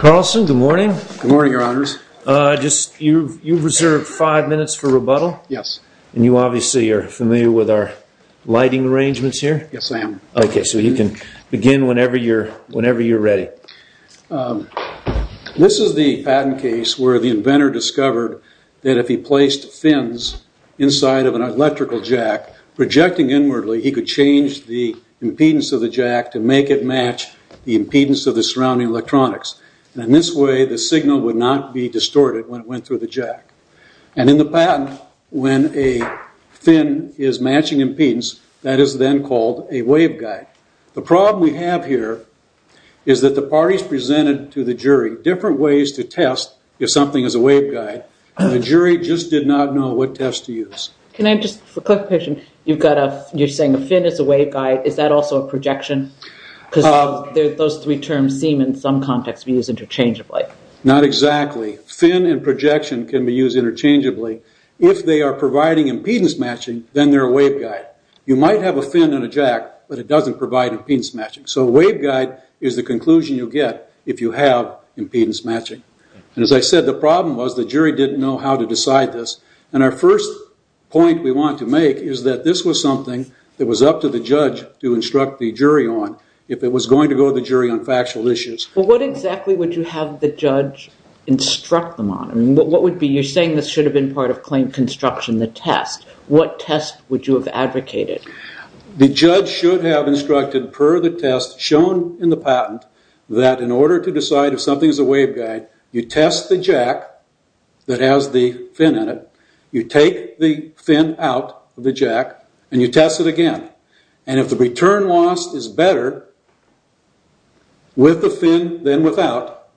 Carlson, good morning. Good morning, your honors. You've reserved five minutes for rebuttal? Yes. And you obviously are familiar with our lighting arrangements here? Yes, I am. Okay, so you can begin whenever you're ready. This is the patent case where the inventor discovered that if he placed fins inside of an electrical jack, projecting inwardly, he could change the impedance of the jack to make it match the impedance of the surrounding electronics. And in this way, the signal would not be distorted when it went through the jack. And in the patent, when a fin is matching impedance, that is then called a waveguide. The problem we have here is that the parties presented to the jury different ways to test if something is a waveguide, and the jury just did not know what test to use. Can I just, for clarification, you're saying a fin is a waveguide, is that also a projection? Because those three terms seem in some context to be used interchangeably. Not exactly. Fin and projection can be used interchangeably. If they are providing impedance matching, then they're a waveguide. You might have a fin in a jack, but it doesn't provide impedance matching. So a waveguide is the conclusion you'll get if you have impedance matching. And as I said, the problem was the jury didn't know how to decide this. And our first point we want to make is that this was something that was up to the judge to instruct the jury on if it was going to go to the jury on factual issues. But what exactly would you have the judge instruct them on? I mean, what would be, you're saying this should have been part of claim construction, the test. What test would you have advocated? The judge should have instructed per the test shown in the patent that in order to decide if something is a waveguide, you test the jack that has the fin in it. You take the fin out of the jack and you test it again. And if the return loss is better with the fin than without,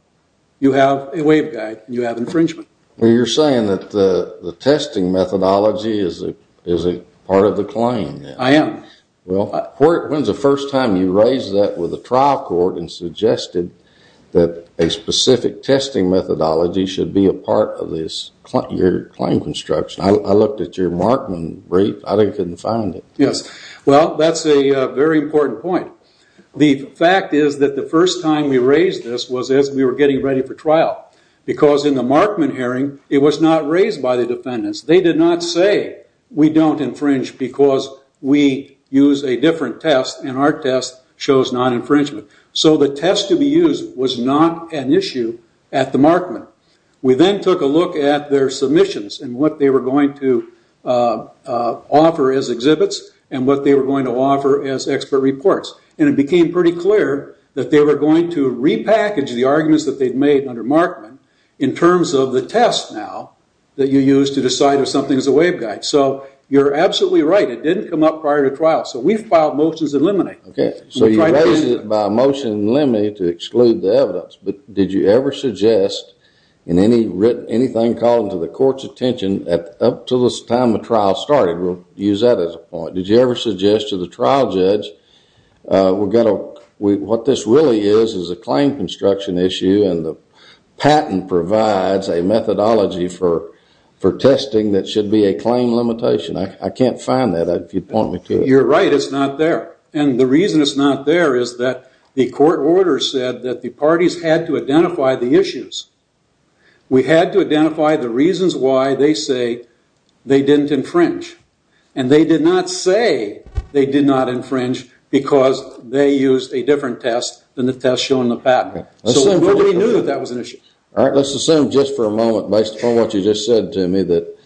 you have a waveguide and you have infringement. Well, you're saying that the testing methodology is a part of the claim. I am. Well, when's the first time you raised that with a trial court and suggested that a specific testing methodology should be a part of your claim construction? I looked at your Markman brief. I couldn't find it. Yes. Well, that's a very important point. The fact is that the first time we raised this was as we were getting ready for trial. Because in the Markman hearing, it was not raised by the defendants. They did not say, we don't infringe because we use a different test and our test shows non-infringement. So the test to be used was not an issue at the Markman. We then took a look at their submissions and what they were going to offer as exhibits and what they were going to offer as expert reports. And it became pretty clear that they were going to repackage the arguments that they'd made under Markman in terms of the test now that you use to decide if something is a waveguide. So you're absolutely right. It didn't come up prior to trial. So we've filed motions in limine. OK. So you raised it by motion in limine to exclude the evidence. But did you ever suggest in anything called to the court's attention up to the time the trial started, we'll use that as a point, did you ever suggest to the trial judge, we've got to, what this really is is a claim construction issue and the patent provides a methodology for testing that should be a claim limitation. I can't find that if you'd point me to it. You're right. It's not there. And the reason it's not there is that the court order said that the parties had to identify the issues. We had to identify the reasons why they say they didn't infringe. And they did not say they did not infringe because they used a different test than the test shown in the patent. So nobody knew that that was an issue. All right. Let's assume just for a moment based upon what you just said to me that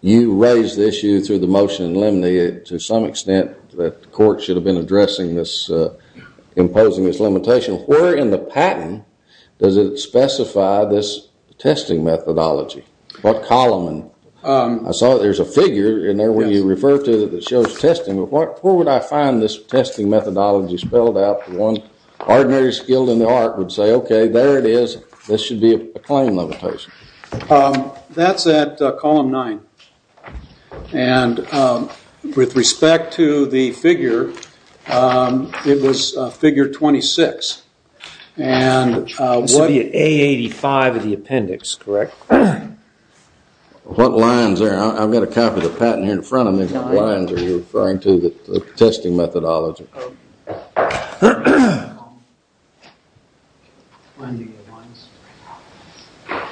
you raised the issue through the motion in limine to some extent that the court should have been addressing this, imposing this limitation. Where in the patent does it specify this testing methodology? What column? I saw there's a figure in there where you refer to that shows testing. But where would I find this testing methodology spelled out? The one ordinary skilled in the art would say, OK, there it is. This should be a claim limitation. That's at column nine. And with respect to the figure, it was figure 26. And this would be at A85 of the appendix, correct? What lines there? I've got a copy of the patent here in front of me. What lines are you referring to the testing methodology?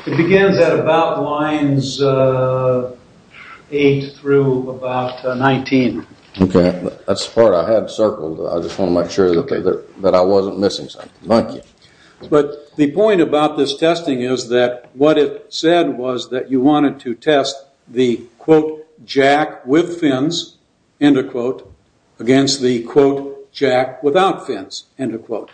It begins at about lines eight through about 19. OK. That's the part I had circled. I just want to make sure that I wasn't missing something. Thank you. But the point about this testing is that what it said was that you wanted to test the, quote, jack with fins, end of quote, against the, quote, jack without fins, end of quote.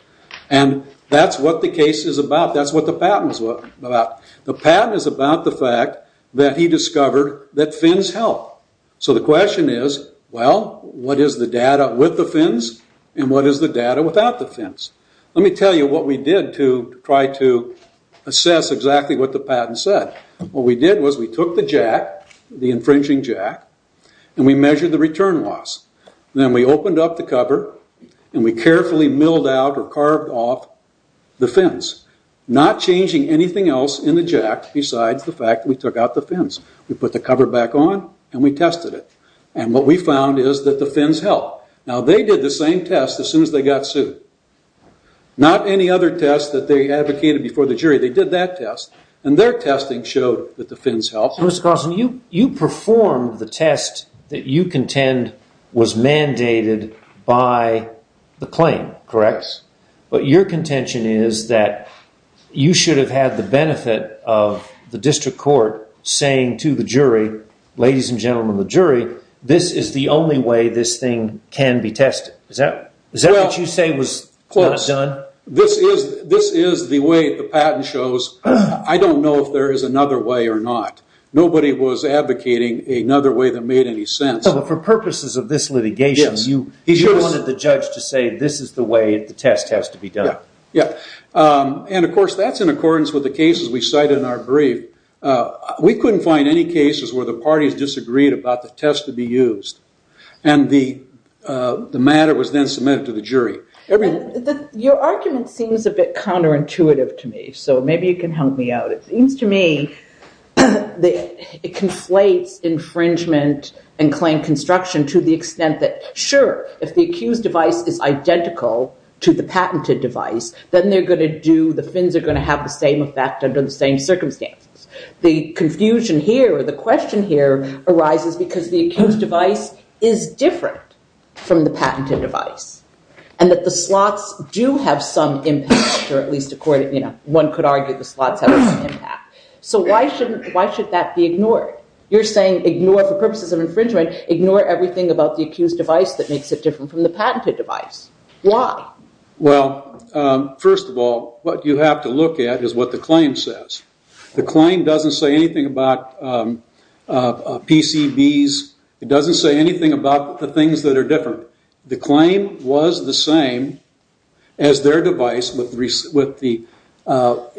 And that's what the case is about. That's what the patent is about. The patent is about the fact that he discovered that fins help. So the question is, well, what is the data with the fins? And what is the data without the fins? Let me tell you what we did to try to assess exactly what the patent said. What we did was we took the jack, the infringing jack, and we measured the return loss. Then we opened up the cover and we carefully milled out or carved off the fins, not changing anything else in the jack besides the fact we took out the fins. We put the cover back on and we tested it. And what we found is that the fins help. Now, they did the same test as soon as they got sued. Not any other test that they advocated before the jury. They did that test. And their testing showed that the fins help. Mr. Carlson, you performed the test that you contend was mandated by the claim, correct? But your contention is that you should have had the benefit of the district court saying to the jury, ladies and gentlemen of the jury, this is the only way this thing can be tested. Is that what you say was done? This is the way the patent shows. I don't know if there is another way or not. Nobody was advocating another way that made any sense. For purposes of this litigation, you wanted the judge to say, this is the way the test has to be done. Yeah. And of course, that's in accordance with the cases we cited in our brief. We couldn't find any cases where the parties disagreed about the test to be used. And the matter was then submitted to the jury. I mean, your argument seems a bit counterintuitive to me. So maybe you can help me out. It seems to me that it conflates infringement and claim construction to the extent that, sure, if the accused device is identical to the patented device, then the fins are going to have the same effect under the same circumstances. The confusion here or the question here arises because the accused device is different from the patented device. And that the slots do have some impact, or at least one could argue the slots have some impact. So why should that be ignored? You're saying ignore, for purposes of infringement, ignore everything about the accused device that makes it different from the patented device. Why? Well, first of all, what you have to look at is what the claim says. The claim doesn't say anything about PCBs. It doesn't say anything about the things that are different. The claim was the same as their device with the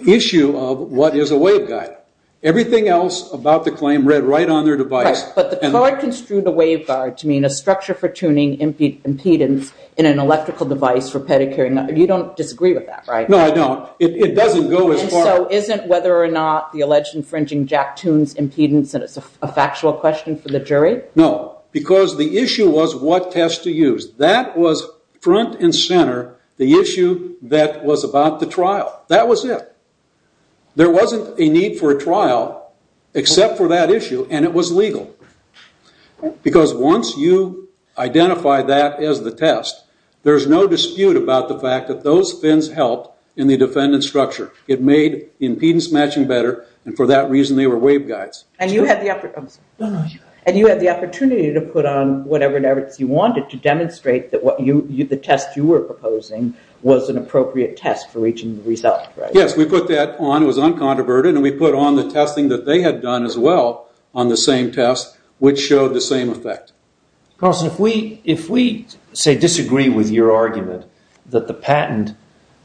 issue of what is a waveguide. Everything else about the claim read right on their device. But the court construed a waveguide to mean a structure for tuning impedance in an electrical device for pedicuring. You don't disagree with that, right? No, I don't. It doesn't go as far. So isn't whether or not the alleged infringing jack tunes impedance and it's a factual question for the jury? No, because the issue was what test to use. That was front and center, the issue that was about the trial. That was it. There wasn't a need for a trial, except for that issue, and it was legal. Because once you identify that as the test, there's no dispute about the fact that those fins helped in the defendant's structure. It made impedance matching better, and for that reason they were waveguides. And you had the opportunity to put on whatever merits you wanted to demonstrate that the test you were proposing was an appropriate test for reaching the result, right? Yes, we put that on. It was uncontroverted, and we put on the testing that they had done as well on the same test, which showed the same effect. Carlson, if we, say, disagree with your argument that the patent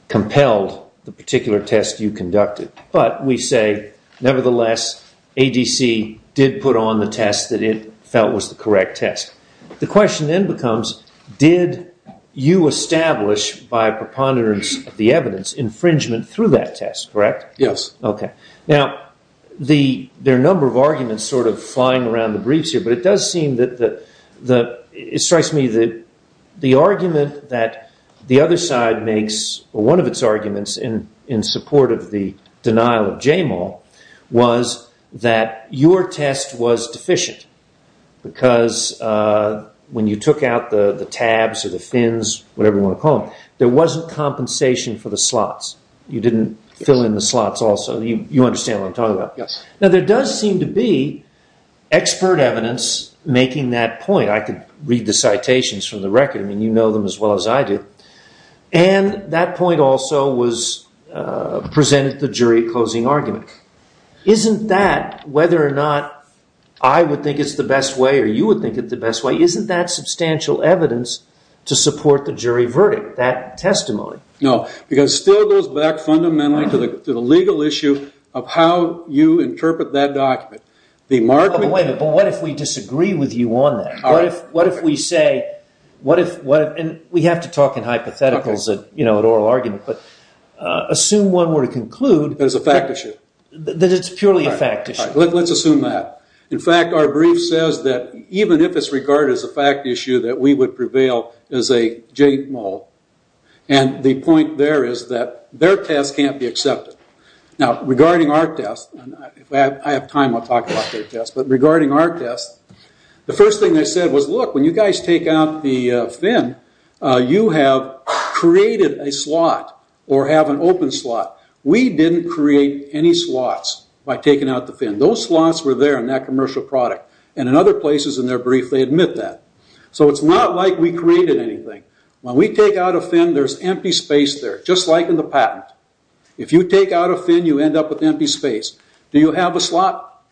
compelled the particular test you conducted, but we say, nevertheless, ADC did put on the test that it felt was the correct test, the question then becomes, did you establish, by preponderance of the evidence, infringement through that test, correct? Yes. Okay. Now, there are a number of arguments sort of flying around the briefs here, but it does seem that, it strikes me that the argument that the other side makes, or one of its arguments in support of the denial of JMOL, was that your test was deficient, because when you took out the tabs or the fins, whatever you want to call them, there wasn't compensation for the slots. You didn't fill in the slots also. You understand what I'm talking about? Yes. Now, there does seem to be expert evidence making that point. I could read the citations from the record. I mean, you know them as well as I do. And that point also presented the jury a closing argument. Isn't that, whether or not I would think it's the best way or you would think it's the best way, isn't that substantial evidence to support the jury verdict, that testimony? No, because it still goes back fundamentally to the legal issue of how you interpret that document. Wait a minute, but what if we disagree with you on that? What if we say, and we have to talk in hypotheticals at oral argument, but assume one were to conclude- That it's a fact issue. That it's purely a fact issue. Let's assume that. In fact, our brief says that even if it's regarded as a fact issue, that we would prevail as a JMOL. And the point there is that their test can't be accepted. Now, regarding our test, and if I have time, I'll talk about their test. But regarding our test, the first thing they said was, look, when you guys take out the fin, you have created a slot or have an open slot. We didn't create any slots by taking out the fin. Those slots were there in that commercial product. And in other places in their brief, they admit that. So it's not like we created anything. When we take out a fin, there's empty space there, just like in the patent. If you take out a fin, you end up with empty space. Do you have a slot?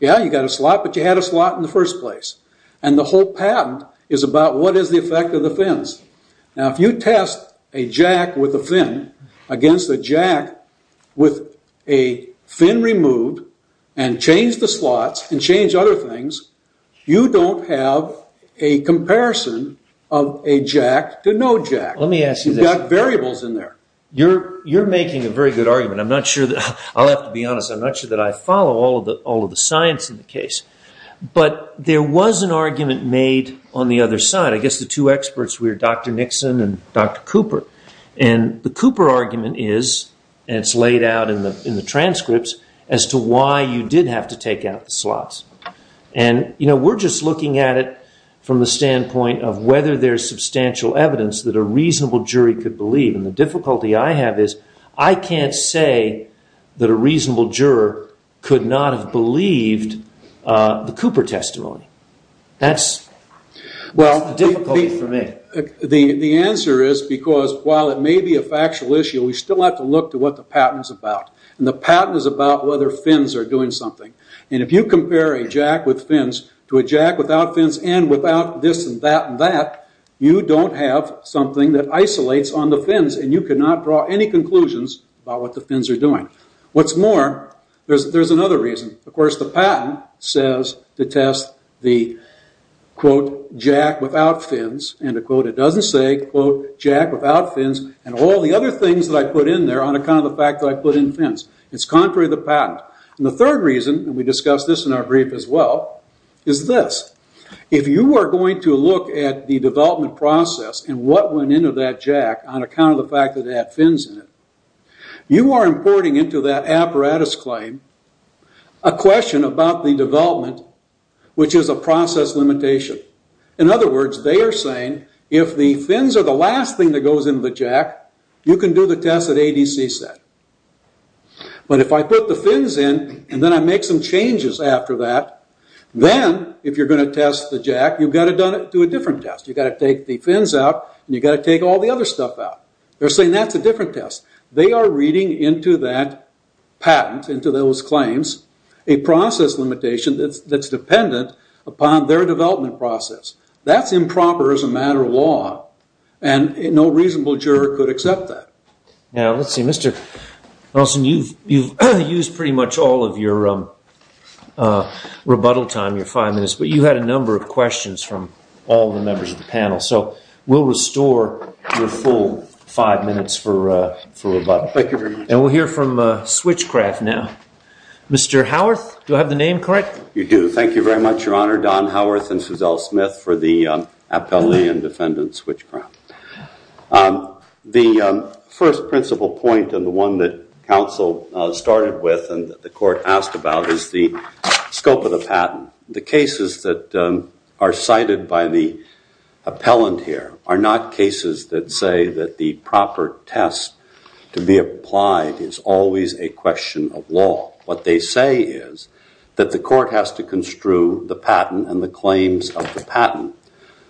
Yeah, you got a slot. But you had a slot in the first place. And the whole patent is about what is the effect of the fins. Now, if you test a jack with a fin against a jack with a fin removed, and change the slots, and change other things, you don't have a comparison of a jack to no jack. Let me ask you this. You've got variables in there. You're making a very good argument. I'm not sure that... I'll have to be honest. I'm not sure that I follow all of the science in the case. But there was an argument made on the other side. I guess the two experts were Dr. Nixon and Dr. Cooper. And the Cooper argument is, and it's laid out in the transcripts, as to why you did have to take out the slots. And, you know, we're just looking at it from the standpoint of whether there's substantial evidence that a reasonable jury could believe. And the difficulty I have is, I can't say that a reasonable juror could not have believed the Cooper testimony. That's the difficulty for me. The answer is, because while it may be a factual issue, we still have to look to what the patent is about. And the patent is about whether fins are doing something. And if you compare a jack with fins to a jack without fins, and without this, and that, and that, you don't have something that isolates on the fins. And you cannot draw any conclusions about what the fins are doing. What's more, there's another reason. Of course, the patent says to test the, quote, jack without fins. And to quote, it doesn't say, quote, jack without fins. And all the other things that I put in there on account of the fact that I put in fins. It's contrary to the patent. And the third reason, and we discussed this in our brief as well, is this. If you are going to look at the development process and what went into that jack on account of the fact that it had fins in it, you are importing into that apparatus claim a question about the development, which is a process limitation. In other words, they are saying, if the fins are the last thing that goes into the jack, you can do the test at ADC set. But if I put the fins in, and then I make some changes after that, then if you're going to test the jack, you've got to do a different test. You've got to take the fins out, and you've got to take all the other stuff out. They're saying that's a different test. They are reading into that patent, into those claims, a process limitation that's dependent upon their development process. That's improper as a matter of law. And no reasonable juror could accept that. Now, let's see. Mr. Nelson, you've used pretty much all of your rebuttal time, your five minutes. But you had a number of questions from all the members of the panel. So we'll restore your full five minutes for rebuttal. Thank you very much. And we'll hear from Switchcraft now. Mr. Howarth, do I have the name correct? You do. Thank you very much, Your Honor. Don Howarth and Suzelle Smith for the appellee and defendant Switchcraft. The first principal point and the one that counsel started with and that the court asked about is the scope of the patent. The cases that are cited by the appellant here are not cases that say that the proper test to be applied is always a question of law. What they say is that the court has to construe the patent and the claims of the patent.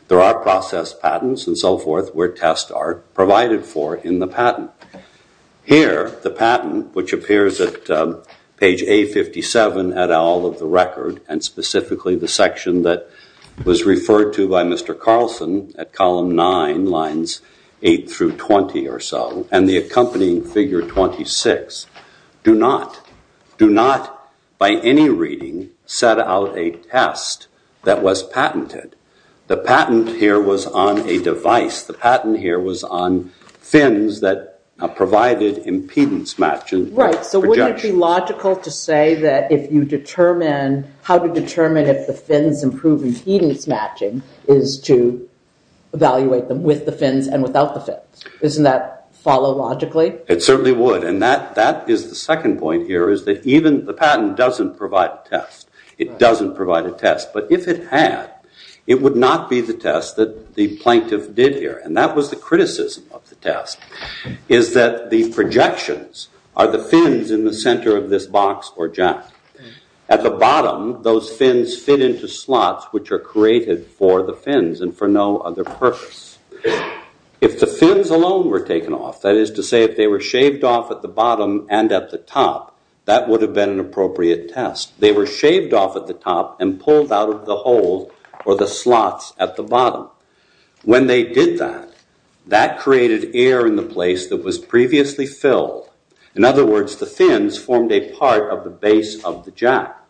There are process patents and so forth where tests are provided for in the patent. Here, the patent, which appears at page A57 et al of the record, and specifically the section that was referred to by Mr. Carlson at column 9, lines 8 through 20 or so, and the accompanying figure 26, do not, do not by any reading set out a test that was patented. The patent here was on a device. The patent here was on fins that provided impedance matching. Right. So wouldn't it be logical to say that if you determine, how to determine if the fins improve impedance matching is to evaluate them with the fins and without the fins? Isn't that follow logically? It certainly would. And that is the second point here is that even the patent doesn't provide a test. It doesn't provide a test. But if it had, it would not be the test that the plaintiff did here. And that was the criticism of the test is that the projections are the fins in the center of this box or jack. At the bottom, those fins fit into slots, which are created for the fins and for no other purpose. If the fins alone were taken off, that is to say, if they were shaved off at the bottom and at the top, that would have been an appropriate test. They were shaved off at the top and pulled out of the hole or the slots at the bottom. When they did that, that created air in the place that was previously filled. In other words, the fins formed a part of the base of the jack.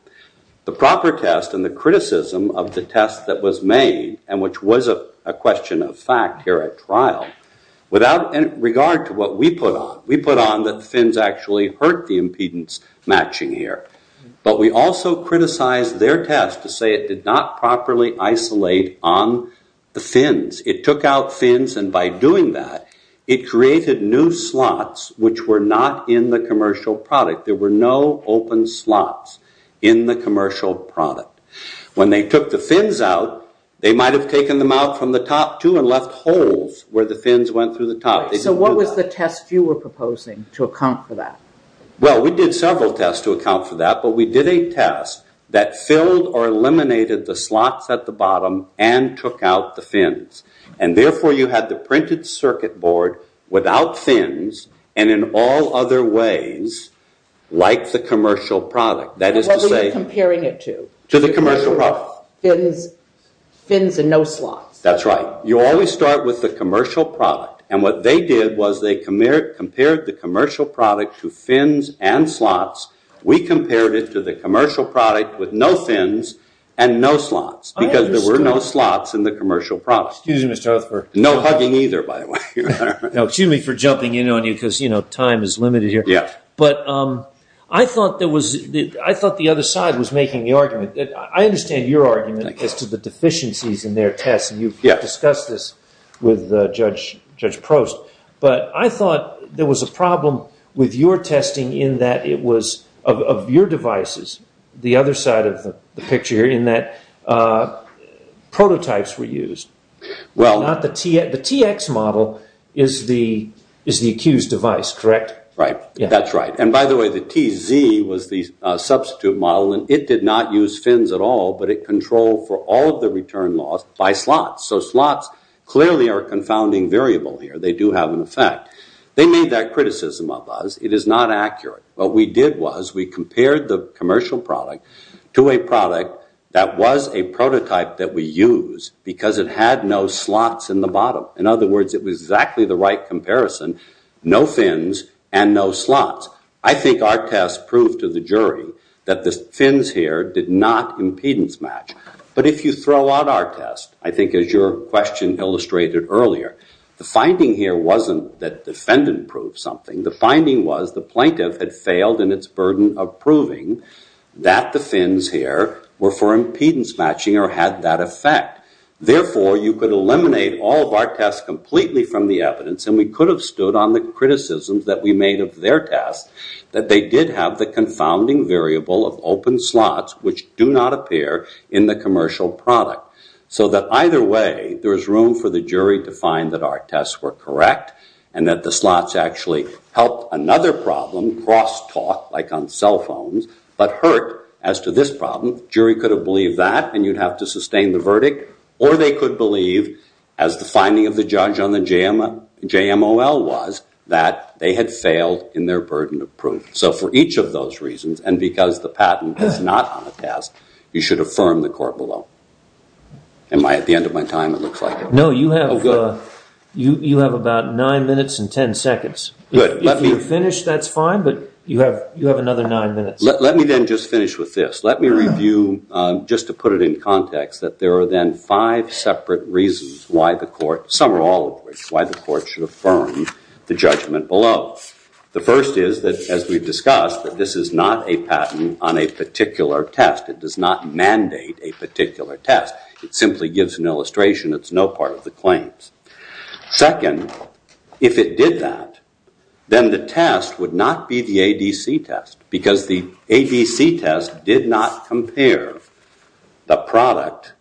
The proper test and the criticism of the test that was made, and which was a question of fact here at trial, without regard to what we put on. We put on the fins actually hurt the impedance matching here. But we also criticized their test to say it did not properly isolate on the fins. It took out fins. And by doing that, it created new slots, which were not in the commercial product. There were no open slots in the commercial product. When they took the fins out, they might have taken them out from the top too and left holes where the fins went through the top. So what was the test you were proposing to account for that? Well, we did several tests to account for that. But we did a test that filled or eliminated the slots at the bottom and took out the fins. And therefore, you had the printed circuit board without fins and in all other ways like the commercial product. That is to say... What were you comparing it to? To the commercial product. Fins and no slots. That's right. You always start with the commercial product. And what they did was they compared the commercial product to fins and slots. We compared it to the commercial product with no fins and no slots because there were no slots in the commercial product. Excuse me, Mr. Huth. No hugging either, by the way. No, excuse me for jumping in on you because time is limited here. Yeah. But I thought the other side was making the argument. I understand your argument as to the deficiencies in their tests. You've discussed this with Judge Prost. But I thought there was a problem with your testing in that it was of your devices, the other side of the picture here, in that prototypes were used. The TX model is the accused device, correct? Right. That's right. And by the way, the TZ was the substitute model. It did not use fins at all, but it controlled for all of the return loss by slots. So slots clearly are a confounding variable here. They do have an effect. They made that criticism of us. It is not accurate. What we did was we compared the commercial product to a product that was a prototype that we used because it had no slots in the bottom. In other words, it was exactly the right comparison, no fins and no slots. I think our test proved to the jury that the fins here did not impedance match. But if you throw out our test, I think as your question illustrated earlier, the finding here wasn't that the defendant proved something. The finding was the plaintiff had failed in its burden of proving that the fins here were for impedance matching or had that effect. Therefore, you could eliminate all of our tests completely from the evidence, and we could have stood on the criticisms that we made of their test, that they did have the confounding variable of open slots, which do not appear in the commercial product. So that either way, there is room for the jury to find that our tests were correct and that the slots actually helped another problem cross talk, like on cell phones, but hurt as to this problem. Jury could have believed that, and you'd have to sustain the verdict. Or they could believe, as the finding of the judge on the JMOL was, that they had failed in their burden of proof. So for each of those reasons, and because the patent is not on the test, you should affirm the court below. Am I at the end of my time? It looks like it. No, you have about nine minutes and 10 seconds. If you finish, that's fine, but you have another nine minutes. Let me then just finish with this. Let me review, just to put it in context, that there are then five separate reasons why the court, some or all of which, why the court should affirm the judgment below. The first is that, as we've discussed, that this is not a patent on a particular test. It does not mandate a particular test. It simply gives an illustration. It's no part of the claims. Second, if it did that, then the test would not be the ADC test, because the ADC test did not compare the product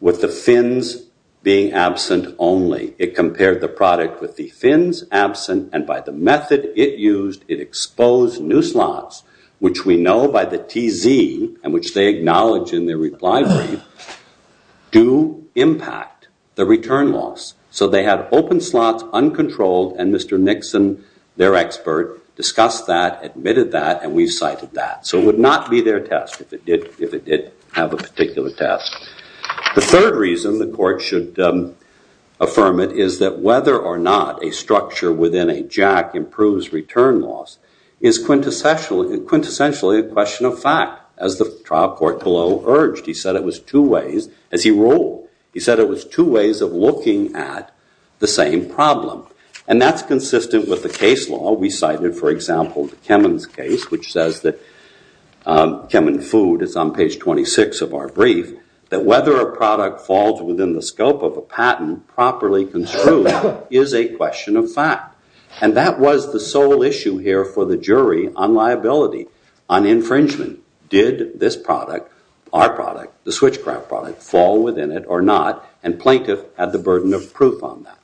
with the fins being absent only. It compared the product with the fins absent, and by the method it used, it exposed new slots, which we know by the TZ, and which they acknowledge in their reply brief, do impact the return loss. So they had open slots, uncontrolled, and Mr. Nixon, their expert, discussed that, admitted that, and we've cited that. So it would not be their test if it did have a particular test. The third reason the court should affirm it is that whether or not a structure within a JAC improves return loss is quintessentially a question of fact, as the trial court below urged. He said it was two ways, as he ruled. He said it was two ways of looking at the same problem, and that's consistent with the case law we cited, for example, to Kemen's case, which says that Kemen food is on page 26 of our brief, that whether a product falls within the scope of a patent properly construed is a question of fact. And that was the sole issue here for the jury on liability, on infringement. Did this product, our product, the switchcraft product, fall within it or not? And plaintiff had the burden of proof on that.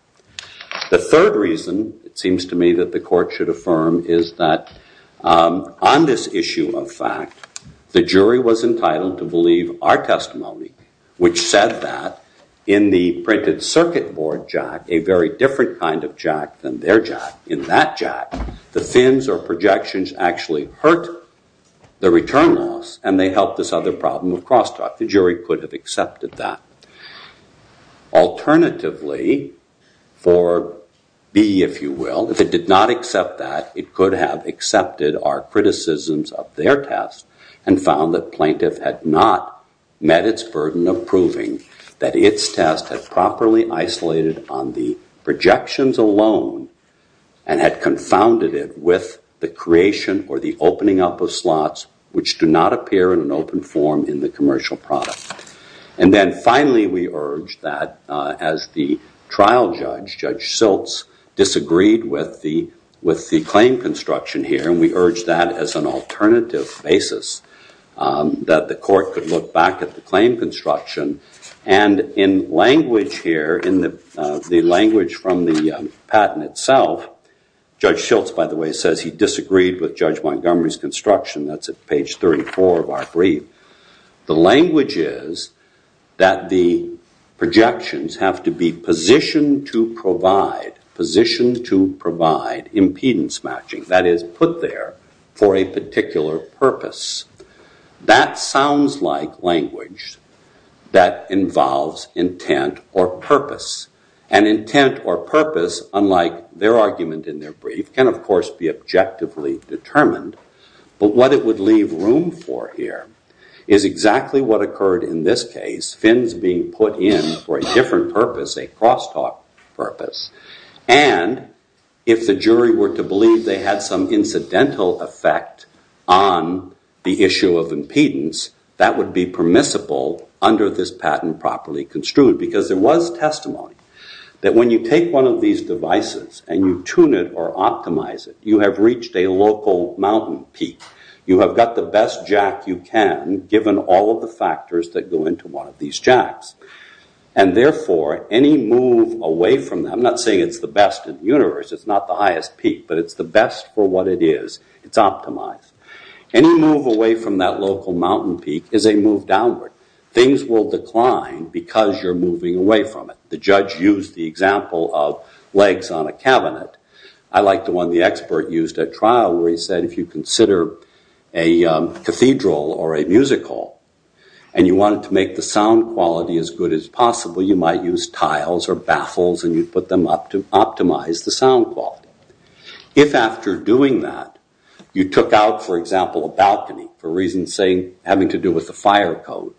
The third reason, it seems to me, that the court should affirm is that on this issue of fact, the jury was entitled to believe our testimony, which said that in the printed circuit board JAC, a very different kind of JAC than their JAC, in that JAC, the fins or projections actually hurt the return loss, and they helped this other problem of crosstalk. The jury could have accepted that. Alternatively, for B, if you will, if it did not accept that, it could have accepted our criticisms of their test and found that plaintiff had not met its burden of proving that its test had properly isolated on the projections alone and had confounded it with the creation or the opening up of slots which do not appear in an open form in the commercial product. And then finally, we urge that as the trial judge, Judge Schiltz, disagreed with the claim construction here, and we urge that as an alternative basis that the court could look back at the claim construction. And in language here, in the language from the patent itself, Judge Schiltz, by the way, says he disagreed with Judge Montgomery's construction. That's at page 34 of our brief. The language is that the projections have to be positioned to provide, positioned to provide impedance matching, that is, put there for a particular purpose. That sounds like language that involves intent or purpose. And intent or purpose, unlike their argument in their brief, can, of course, be objectively determined. But what it would leave room for here is exactly what occurred in this case, fins being put in for a different purpose, a crosstalk purpose. And if the jury were to believe they had some incidental effect on the issue of impedance, that would be permissible under this patent properly construed. Because there was testimony that when you take one of these devices and you tune it or optimize it, you have reached a local mountain peak. You have got the best jack you can, given all of the factors that go into one of these jacks. And therefore, any move away from that, I'm not saying it's the best in the universe. It's not the highest peak. But it's the best for what it is. It's optimized. Any move away from that local mountain peak is a move downward. Things will decline because you're moving away from it. The judge used the example of legs on a cabinet. I like the one the expert used at trial where he said if you consider a cathedral or a musical and you wanted to make the sound quality as good as possible, you might use tiles or baffles and you'd put them up to optimize the sound quality. If after doing that, you took out, for example, a balcony for reasons having to do with the fire code,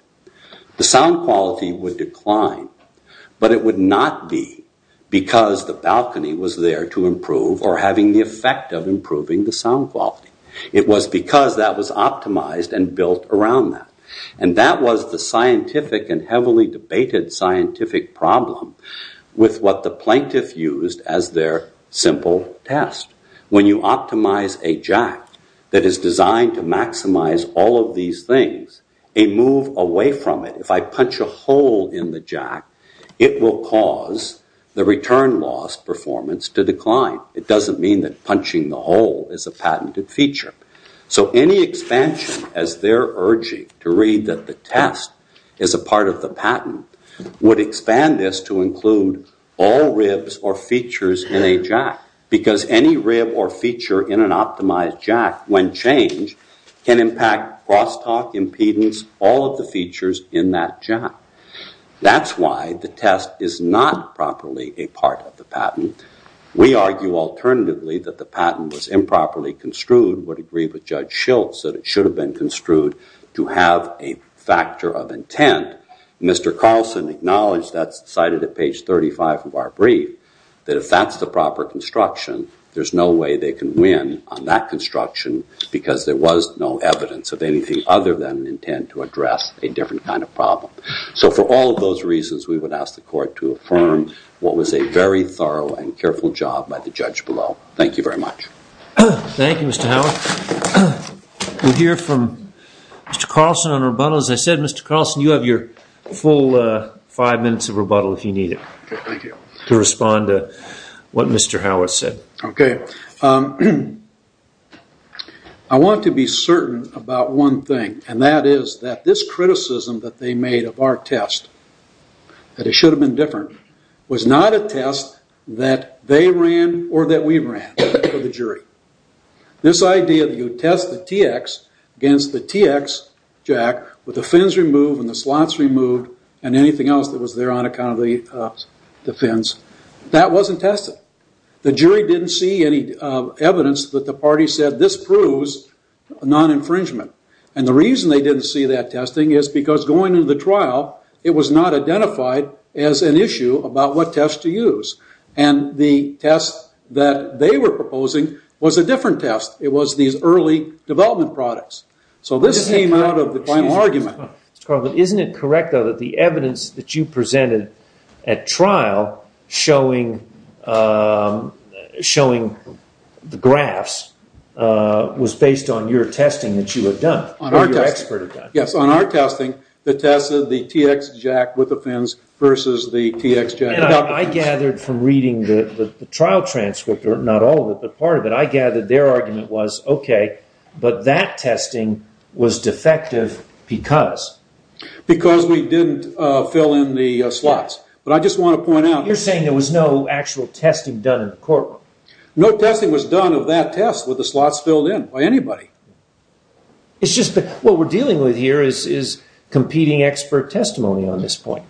the sound quality would decline. But it would not be because the balcony was there to improve or having the effect of improving the sound quality. It was because that was optimized and built around that. And that was the scientific and heavily debated scientific problem with what the plaintiff used as their simple test. When you optimize a jack that is designed to maximize all of these things, a move away from it, if I punch a hole in the jack, it will cause the return loss performance to decline. It doesn't mean that punching the hole is a patented feature. So any expansion as they're urging to read that the test is a part of the patent would expand this to include all ribs or features in a jack because any rib or feature in an That's why the test is not properly a part of the patent. We argue alternatively that the patent was improperly construed, would agree with Judge Schiltz that it should have been construed to have a factor of intent. Mr. Carlson acknowledged that's cited at page 35 of our brief, that if that's the proper construction, there's no way they can win on that construction because there was no intent to address a different kind of problem. So for all of those reasons, we would ask the court to affirm what was a very thorough and careful job by the judge below. Thank you very much. Thank you, Mr. Howard. We'll hear from Mr. Carlson on rebuttal. As I said, Mr. Carlson, you have your full five minutes of rebuttal if you need it to respond to what Mr. Howard said. Okay, I want to be certain about one thing and that is that this criticism that they made of our test, that it should have been different, was not a test that they ran or that we ran for the jury. This idea that you test the TX against the TX jack with the fins removed and the slots removed and anything else that was there on account of the fins, that wasn't tested. The jury didn't see any evidence that the party said this proves non-infringement. And the reason they didn't see that testing is because going into the trial, it was not identified as an issue about what test to use. And the test that they were proposing was a different test. It was these early development products. So this came out of the final argument. Mr. Carlson, isn't it correct, though, that the evidence that you presented at trial showing the graphs was based on your testing that you had done or your expert had done? Yes, on our testing that tested the TX jack with the fins versus the TX jack without the fins. I gathered from reading the trial transcript, or not all of it, but part of it, I gathered their argument was, okay, but that testing was defective because? Because we didn't fill in the slots. But I just want to point out. You're saying there was no actual testing done in the courtroom? No testing was done of that test with the slots filled in by anybody. It's just that what we're dealing with here is competing expert testimony on this point.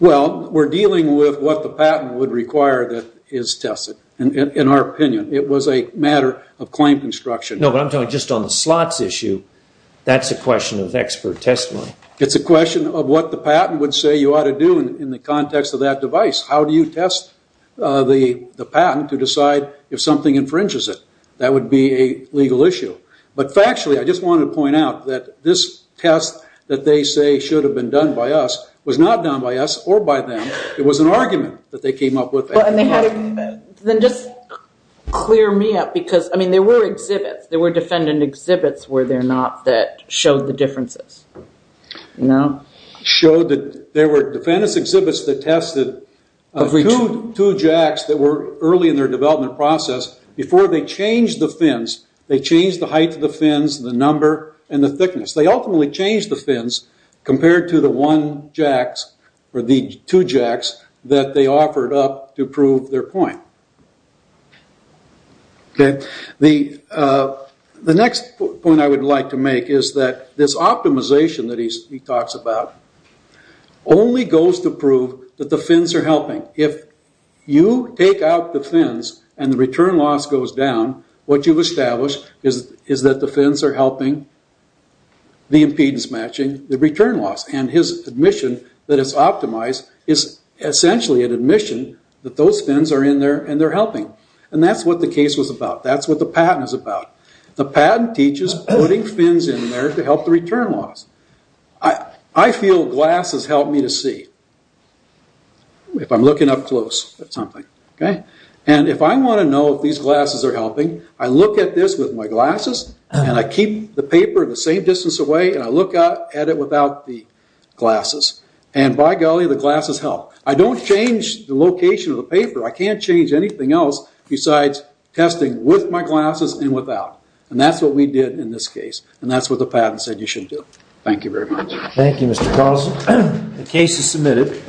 Well, we're dealing with what the patent would require that is tested, in our opinion. It was a matter of claim construction. No, but I'm talking just on the slots issue. That's a question of expert testimony. It's a question of what the patent would say you ought to do in the context of that device. How do you test the patent to decide if something infringes it? That would be a legal issue. But factually, I just wanted to point out that this test that they say should have been done by us was not done by us or by them. It was an argument that they came up with. Then just clear me up because, I mean, there were exhibits. There were defendant exhibits, were there not, that showed the differences? No. Showed that there were defendants exhibits that tested two jacks that were early in their development process. Before they changed the fins, they changed the height of the fins, the number, and the thickness. They ultimately changed the fins compared to the one jacks or the two jacks that they offered up to prove their point. The next point I would like to make is that this optimization that he talks about only goes to prove that the fins are helping. If you take out the fins and the return loss goes down, what you've established is that the fins are helping the impedance matching the return loss. His admission that it's optimized is essentially an admission that those fins are in there and they're helping. That's what the case was about. That's what the patent is about. The patent teaches putting fins in there to help the return loss. I feel glasses help me to see if I'm looking up close at something. If I want to know if these glasses are helping, I look at this with my glasses and I keep the paper the same distance away and I look at it without the glasses. By golly, the glasses help. I don't change the location of the paper. I can't change anything else besides testing with my glasses and without. That's what we did in this case. That's what the patent said you should do. Thank you very much. Thank you, Mr. Carlson. The case is submitted.